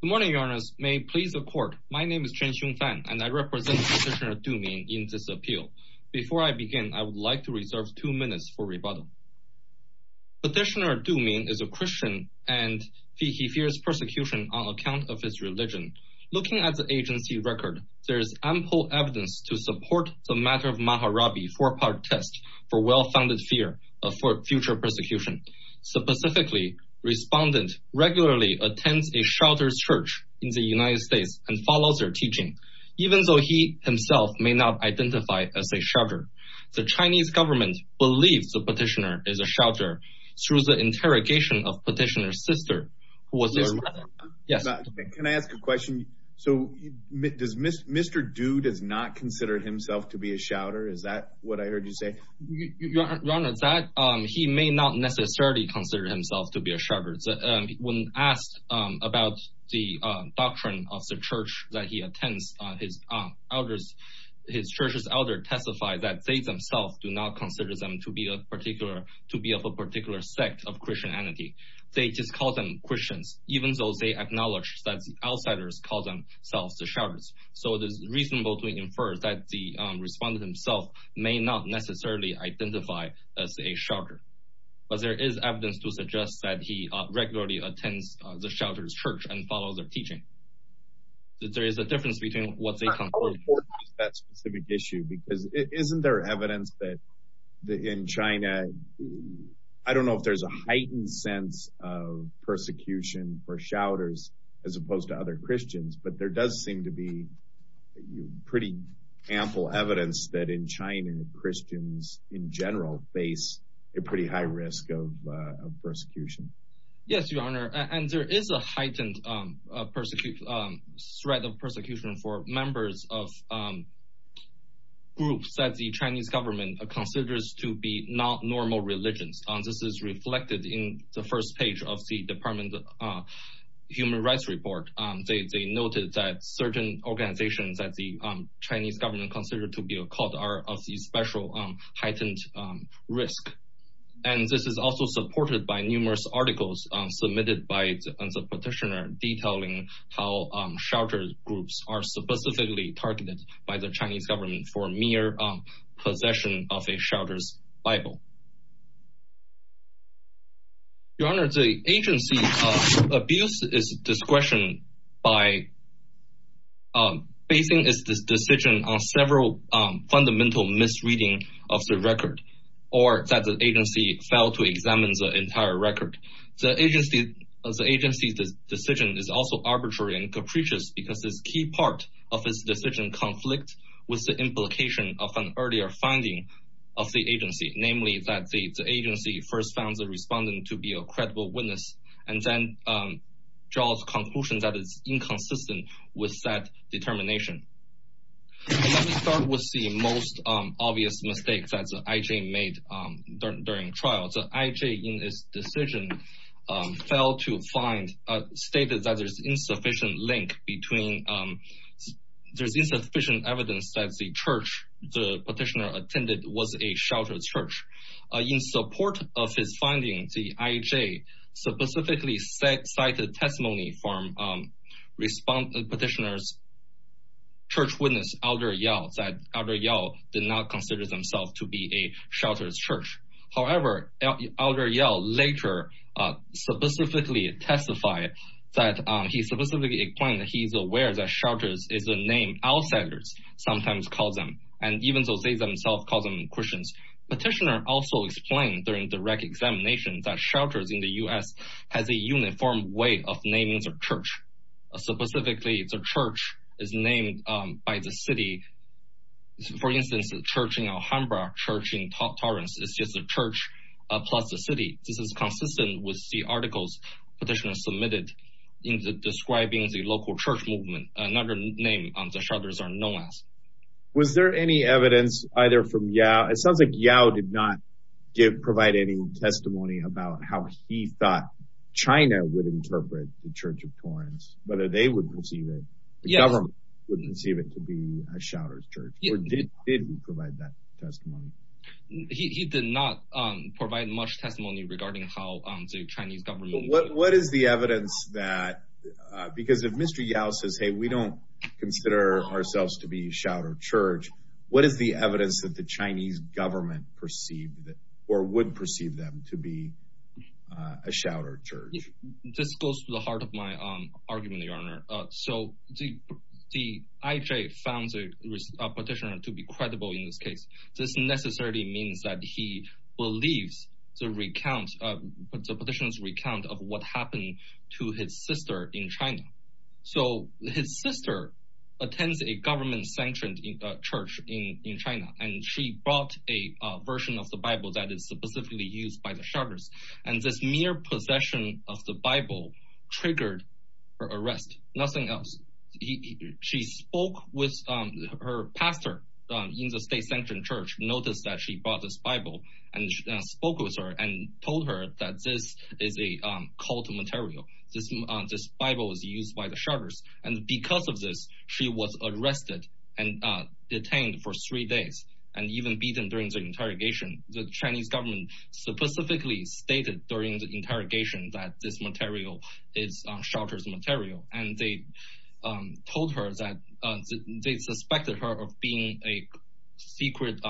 Good morning, Your Honours. May it please the court, my name is Chen Xiong Fan and I represent Petitioner Du Min in this appeal. Before I begin, I would like to reserve two minutes for rebuttal. Petitioner Du Min is a Christian and he fears persecution on account of his religion. Looking at the agency record, there is ample evidence to support the matter of Maharabi four-part test for well-founded fear of future persecution. Specifically, Respondent regularly attends a shelter's church in the United States and follows their teaching, even though he himself may not identify as a shelter. The Chinese government believes the petitioner is a shelter through the interrogation of Petitioner's sister, who was their mother. Your Honour, can I ask a question? So Mr. Du does not consider himself to be a shelter, is that what I heard you say? Your Honour, he may not necessarily consider himself to be a shelter. When asked about the doctrine of the church that he attends, his church's elders testified that they themselves do not consider them to be of a particular sect of Christianity. They just call them Christians, even though they acknowledge that outsiders call themselves the shelters. So it is reasonable to infer that the Respondent himself may not necessarily identify as a shelter, but there is evidence to suggest that he regularly attends the shelter's church and follows their teaching. There is a difference between what they conclude. I would support that specific issue because isn't there evidence that in China, I don't know if there's a heightened sense of persecution for shelters as opposed to Christians, but there does seem to be pretty ample evidence that in China, Christians in general face a pretty high risk of persecution. Yes, Your Honour, and there is a heightened threat of persecution for members of groups that the Chinese government considers to be not normal religions. This is reflected in the first page of the Department of Human Rights report. They noted that certain organizations that the Chinese government considers to be occult are of special heightened risk. This is also supported by numerous articles submitted by the petitioner detailing how shelter groups are specifically targeted by the Chinese government for mere possession of a Bible. Your Honour, the agency abuses its discretion by basing its decision on several fundamental misreading of the record or that the agency failed to examine the entire record. The agency's decision is also arbitrary and capricious because a key part of its decision conflicts with the implication of an earlier finding of the agency, namely that the agency first found the respondent to be a credible witness and then draws conclusions that it's inconsistent with that determination. Let me start with the most obvious mistake that the IJ made during trial. The IJ in its decision failed to find, stated that there's insufficient link between, there's insufficient evidence that the church the petitioner attended was a sheltered church. In support of his findings, the IJ specifically cited testimony from petitioner's church witness Elder Yao that Elder Yao did not consider themselves to be a sheltered church. However, Elder Yao later specifically testified that he specifically explained that he's aware that shelters is a name outsiders sometimes call them and even though they themselves call them Christians. Petitioner also explained during direct examination that shelters in the U.S. has a uniform way of naming the church. Specifically, the church is named by the city. For instance, the church in Alhambra, church in Torrance is just a church plus the city. This is consistent with the articles petitioner submitted in describing the local church movement. Another name the shelters are known as. Was there any evidence either from Yao? It sounds like Yao did not provide any testimony about how he thought China would interpret the church of Torrance, whether they would perceive it, the government would perceive it to be a sheltered church, or did he provide that testimony? He did not provide much testimony regarding how the Chinese government. What is the evidence that, because if Mr. Yao says hey we don't consider ourselves to be sheltered church, what is the evidence that the Chinese government perceived or would perceive them to be a sheltered church? This goes to the heart of my argument, Your Honor. The IJ found the petitioner to be credible in this case. This necessarily means that he believes the petitioner's recount of what happened to his sister in China. His sister attends a government-sanctioned church in China. She brought a version of the Bible that is specifically used by the shelters. This mere possession of the Bible triggered her arrest. Nothing else. Her pastor in the state-sanctioned church noticed that she brought this Bible and spoke with her and told her that this is a cult material. This Bible is used by the shelters. Because of this, she was arrested and detained for three days and even beaten during the interrogation. The Chinese government specifically stated during the interrogation that this material is shelters material. They told her that they suspected her of being a secret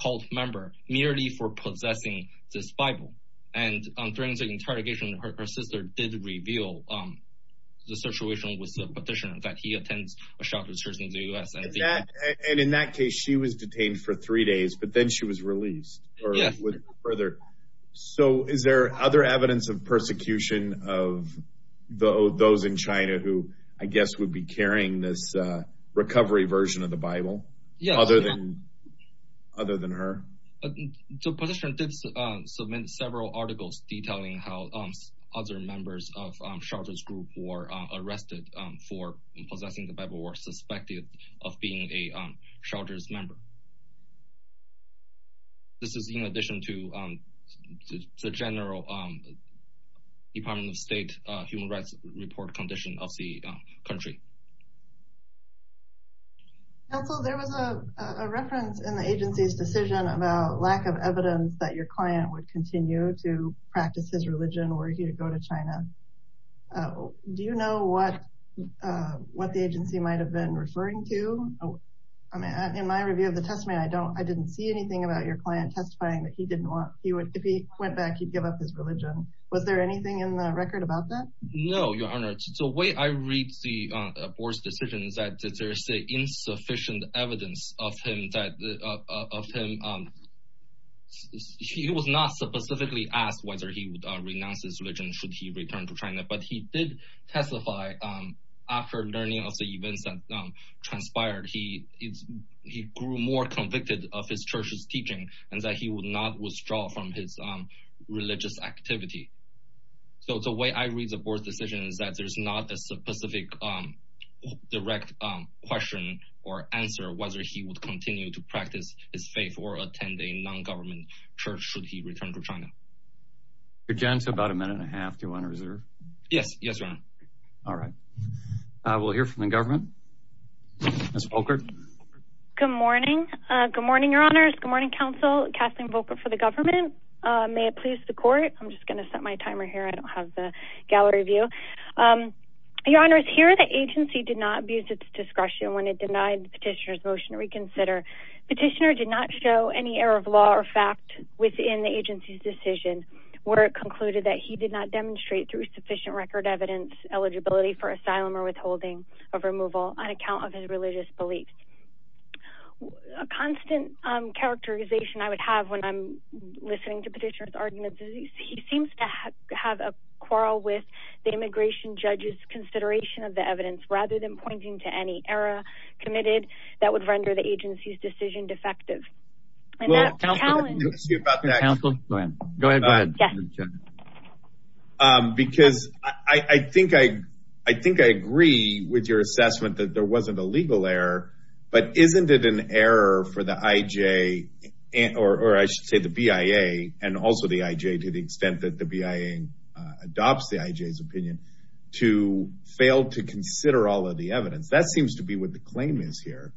cult member merely for possessing this Bible. During the interrogation, her sister did reveal the situation with the petitioner that he attends a sheltered church in the U.S. In that case, she was detained for three days but then she was released. Yes. Is there other evidence of persecution of those in China who, I guess, would be carrying this recovery version of the Bible other than her? The petitioner did submit several articles detailing how other members of the shelters group were arrested for possessing the Bible or suspected of being a shelters member. This is in addition to the general Department of State human rights report condition of the country. Counsel, there was a reference in the agency's decision about lack of evidence that your client would continue to practice his religion or he would go to China. Do you know what the agency might have been referring to? In my review of the testament, I didn't see anything about your client testifying that if he went back, he would give up his religion. Was there anything in the record about that? No, Your Honor. The way I read the board's decision is that there is insufficient evidence of him. He was not specifically asked whether he would renounce his religion should he return to China, but he did testify after learning of the events that transpired. He grew more convicted of his church's teaching and that he would not withdraw from his religious activity. The way I read the board's decision is that there's not a specific direct question or answer whether he would continue to practice his faith or attend a non-government church should he return to China. Your gentle about a minute and a half. Do you want to reserve? Yes. Yes, Your Honor. All right. We'll hear from the government. Ms. Volkert. Good morning. Good morning, Your Honors. Good morning, counsel. Kathleen Volkert for the government. May it please the court. I'm just going to set my timer here. I don't have the review. Your Honor is here. The agency did not abuse its discretion when it denied petitioner's motion to reconsider. Petitioner did not show any error of law or fact within the agency's decision where it concluded that he did not demonstrate through sufficient record evidence eligibility for asylum or withholding of removal on account of his religious beliefs. A constant characterization I would have when I'm listening to petitioner's arguments. He seems to have a quarrel with the immigration judge's consideration of the evidence rather than pointing to any error committed that would render the agency's decision defective. Because I think I agree with your assessment that there wasn't a legal error, but isn't it an error for the IJ or I should say the BIA and also the IJ to the extent that the BIA adopts the IJ's opinion to fail to consider all of the evidence. That seems to be what the claim is here.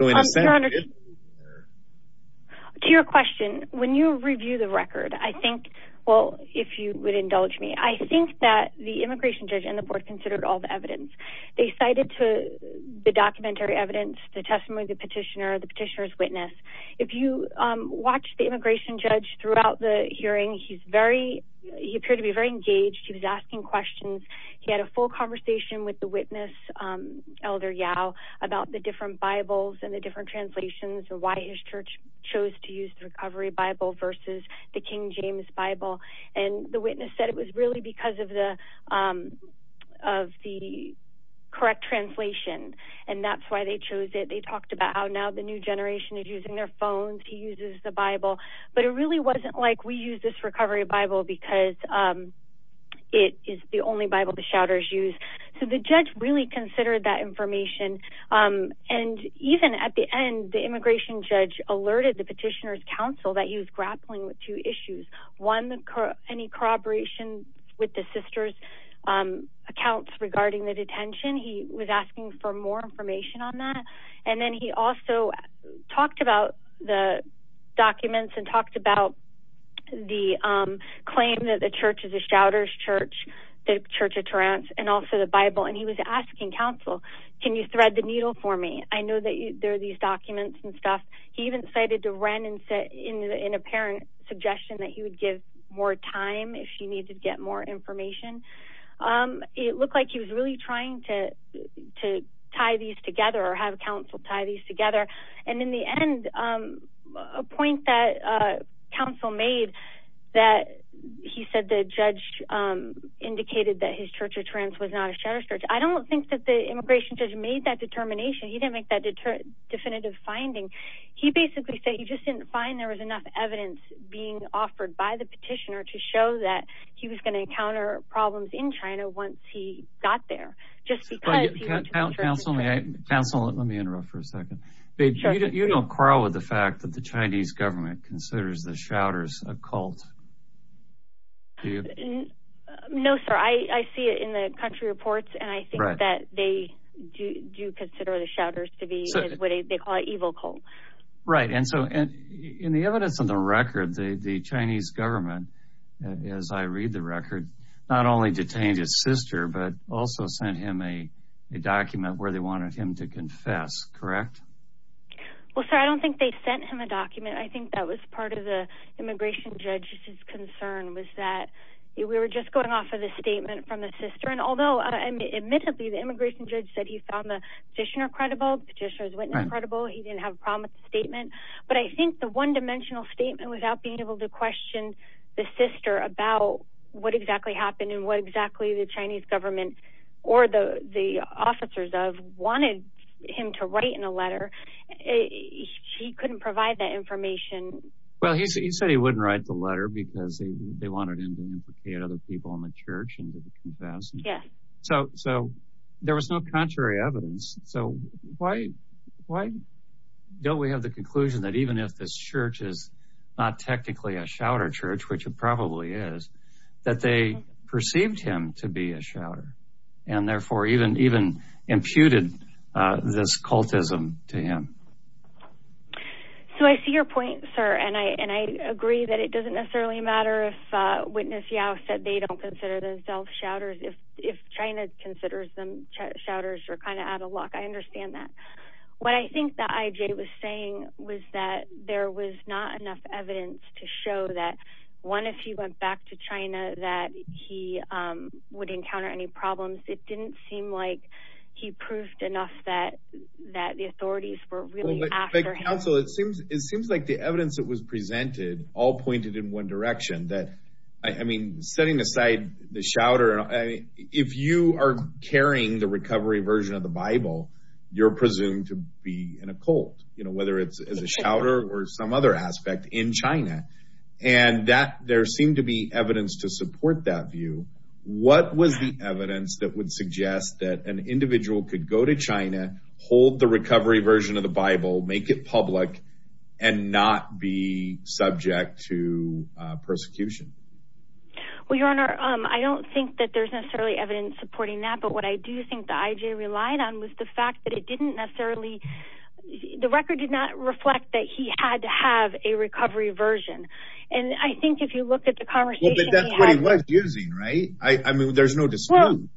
To your question, when you review the record, I think, well, if you would indulge me, I think that the immigration judge and the board considered all the evidence. They cited to the documentary evidence, the testimony of the petitioner, the petitioner's witness. If you watch the immigration judge throughout the hearing, he's very, he appeared to be very engaged. He was asking questions. He had a full conversation with the witness, Elder Yao, about the different Bibles and the different translations or why his church chose to use the recovery Bible versus the King James Bible. And the witness said it was really because of the correct translation. And that's why they chose it. They talked about how now the new generation is using their phones. He uses the Bible, but it really wasn't like we use this recovery Bible because it is the only Bible the shouters use. So the judge really considered that information. And even at the end, the immigration judge alerted the petitioner's counsel that he was grappling with two issues. One, any corroboration with the sister's accounts regarding the detention. He was asking for more information on that. And then he also talked about the documents and talked about the claim that the church is a shouters church, the church of Torrance and also the Bible. And he was asking counsel, can you thread the needle for me? I know there are these documents and stuff. He even decided to run and sit in an apparent suggestion that he would give more time if she needed to get more information. It looked like he was really trying to tie these together or have counsel tie these together. And in the end, a point that counsel made that he said the judge indicated that his church of Torrance was not a shouters church. I don't think that the immigration judge made that determination. He didn't make that definitive finding. He basically said he just didn't find there was enough evidence being offered by the petitioner to show that he was going to encounter problems in China once he got there. Just because. Counsel, let me interrupt for a second. You don't quarrel with the fact that the Chinese government considers the shouters a cult. No, sir. I see it in the country reports, and I think that they do consider the shouters to be what they call an evil cult. Right. And so in the evidence of the record, the Chinese government, as I read the record, not only detained his sister, but also sent him a document where they wanted him to confess. Correct. Well, sir, I don't think they sent him a document. I think that was part of the immigration judge's concern was that we were just going off of the statement from the sister. And although admittedly, the immigration judge said he found the petitioner credible, petitioner's witness credible, he didn't have a problem with the statement. But I think the one dimensional statement without being able to question the sister about what exactly happened and what exactly the Chinese government or the officers of wanted him to write in a letter, he couldn't provide that information. Well, he said he wouldn't write the letter because they wanted him to implicate other people in the church and to confess. So there was no contrary evidence. So why don't we have the conclusion that even if this church is not technically a shouter church, which it probably is, that they perceived him to be a shouter and therefore even imputed this out? So I see your point, sir. And I agree that it doesn't necessarily matter if witness Yao said they don't consider themselves shouters. If China considers them shouters, you're kind of out of luck. I understand that. What I think that IJ was saying was that there was not enough evidence to show that one, if he went back to China, that he would encounter any problems. It didn't seem like he proved enough that, that the authorities were really after him. Counsel, it seems, it seems like the evidence that was presented all pointed in one direction that, I mean, setting aside the shouter, if you are carrying the recovery version of the Bible, you're presumed to be in a cult, you know, whether it's as a shouter or some other aspect in China. And that there seemed to be evidence to support that view. What was the evidence that would suggest that an individual could go to China, hold the recovery version of the Bible, make it public and not be subject to persecution? Well, your honor, I don't think that there's necessarily evidence supporting that. But what I do think the IJ relied on was the fact that it didn't necessarily, the record did not reflect that he had to have a recovery version. And I think if you look at the conversation, right. I mean, there's no dispute.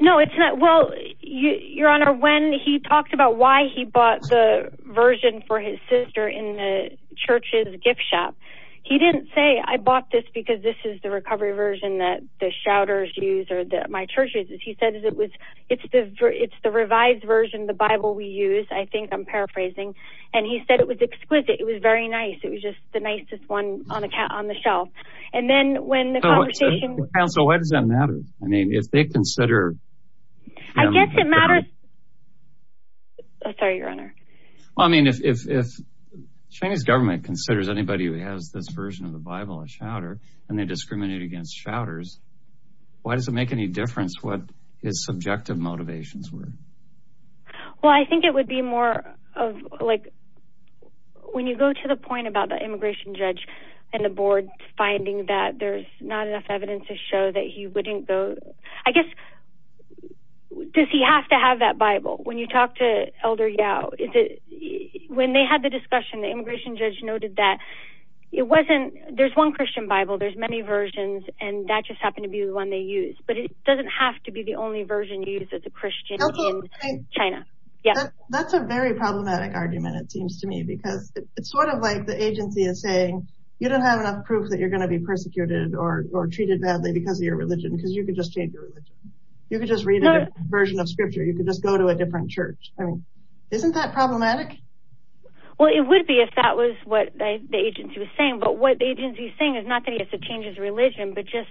No, it's not. Well, your honor, when he talked about why he bought the version for his sister in the church's gift shop, he didn't say I bought this because this is the recovery version that the shouters use, or that my churches, as he said, is it was, it's the, it's the revised version of the Bible we use. I think I'm paraphrasing. And he said it was exquisite. It was very nice. It was just the shelf. And then when the council, why does that matter? I mean, if they consider, I guess it matters. Sorry, your honor. Well, I mean, if, if, if Chinese government considers anybody who has this version of the Bible, a shouter, and they discriminate against shouters, why does it make any difference what his subjective motivations were? Well, I think it would be more of like, when you go to the point about the immigration judge and the board finding that there's not enough evidence to show that he wouldn't go, I guess, does he have to have that Bible? When you talk to elder Yao, is it when they had the discussion, the immigration judge noted that it wasn't, there's one Christian Bible, there's many versions, and that just happened to be the one they use, but it doesn't have to be the only version you use as a Christian in China. That's a very problematic argument, it seems to me, because it's sort of like the agency is saying, you don't have enough proof that you're going to be persecuted or treated badly because of your religion, because you could just change your religion. You could just read a version of scripture. You could just go to a different church. I mean, isn't that problematic? Well, it would be if that was what the agency was saying, but what the agency is saying is not that he has to change his religion, but just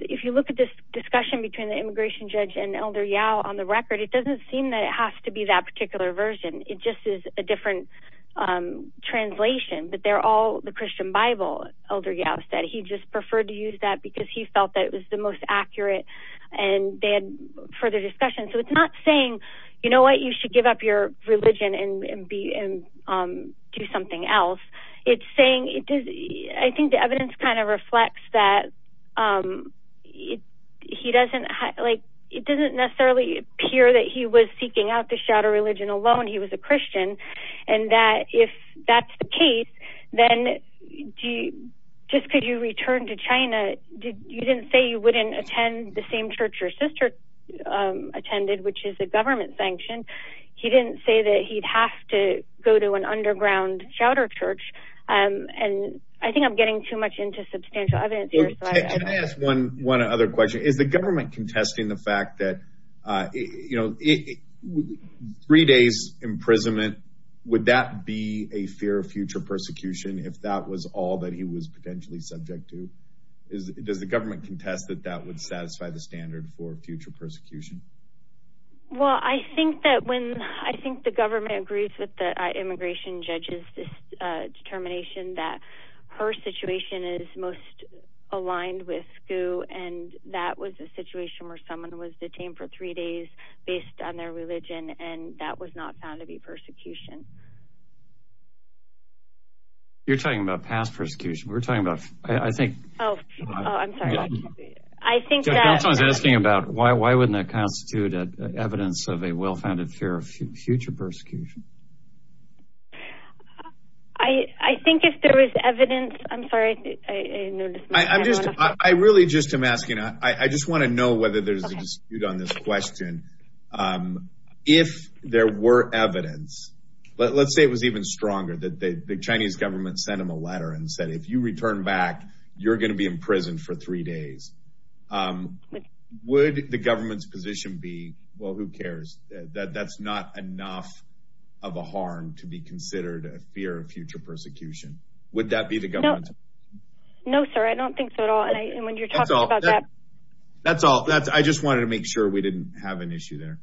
if you look at this discussion between the immigration judge and elder Yao on the record, it doesn't seem that it has to be that particular version. It just is a different translation, but they're all the Christian Bible, elder Yao said. He just preferred to use that because he felt that it was the most accurate, and they had further discussion. So, it's not saying, you know what, you should give up your religion and do something else. I think the evidence kind of reflects that it doesn't necessarily appear that he was seeking out to shatter religion alone. He was a Christian, and that if that's the case, then just because you returned to China, you didn't say you wouldn't attend the same church your sister attended, which is a government sanction. He didn't say that he'd have to go to an underground chowder church, and I think I'm getting too much into substantial evidence here. Can I ask one other question? Is the government contesting the fact that, you know, three days imprisonment, would that be a fear of future persecution if that was all that he was potentially subject to? Does the government contest that that would satisfy the standard for future persecution? Well, I think that when, I think the government agrees with the immigration judge's determination that her situation is most aligned with Gu, and that was a situation where someone was detained for three days based on their religion, and that was not found to be persecution. You're talking about past persecution. We're talking about, I think, oh, I'm sorry. I think someone's asking about why wouldn't that constitute evidence of a well-founded fear of future persecution? I think if there is evidence, I'm sorry. I really just am asking, I just want to know whether there's a dispute on this question. If there were evidence, let's say it was even stronger that the Chinese government sent him a letter and said, if you return back, you're going to be in prison for three days. Um, would the government's position be, well, who cares that that's not enough of a harm to be considered a fear of future persecution? Would that be the government? No, sir. I don't think so at all. And when you're talking about that, that's all, that's, I just wanted to make sure we didn't have an issue there.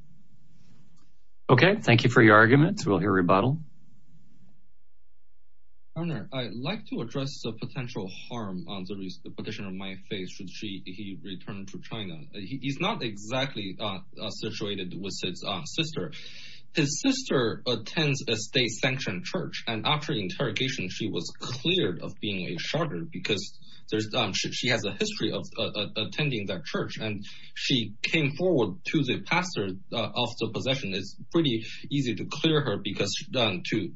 Okay. Thank you for your argument. We'll hear rebuttal. Ernest, I'd like to address the potential harm on the petitioner of my faith should she, he returned to China. He's not exactly situated with his sister. His sister attends a state sanctioned church. And after interrogation, she was cleared of being a sharder because there's, she has a history of attending that church. And she came forward to the pastor of the possession. It's pretty easy to clear her because to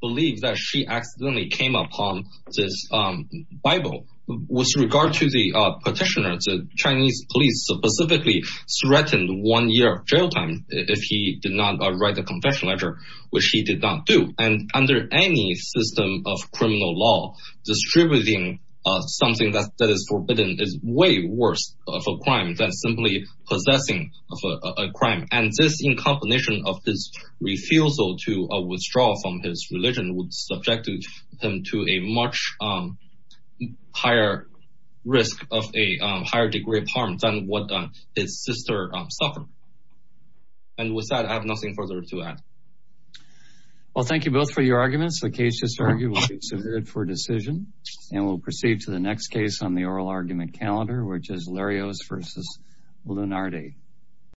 believe that she accidentally came upon this Bible. With regard to the petitioner, the Chinese police specifically threatened one year of jail time if he did not write a confession letter, which he did not do. And under any system of criminal law, distributing something that is forbidden is way worse of a crime than simply possessing of a crime. And this in combination of his refusal to withdraw from his religion would subject him to a much higher risk of a higher degree of harm than what his sister suffered. And with that, I have nothing further to add. Well, thank you both for your arguments. The case just argued for decision and we'll proceed to the next case on the oral argument calendar, which is Larios versus Lunardi.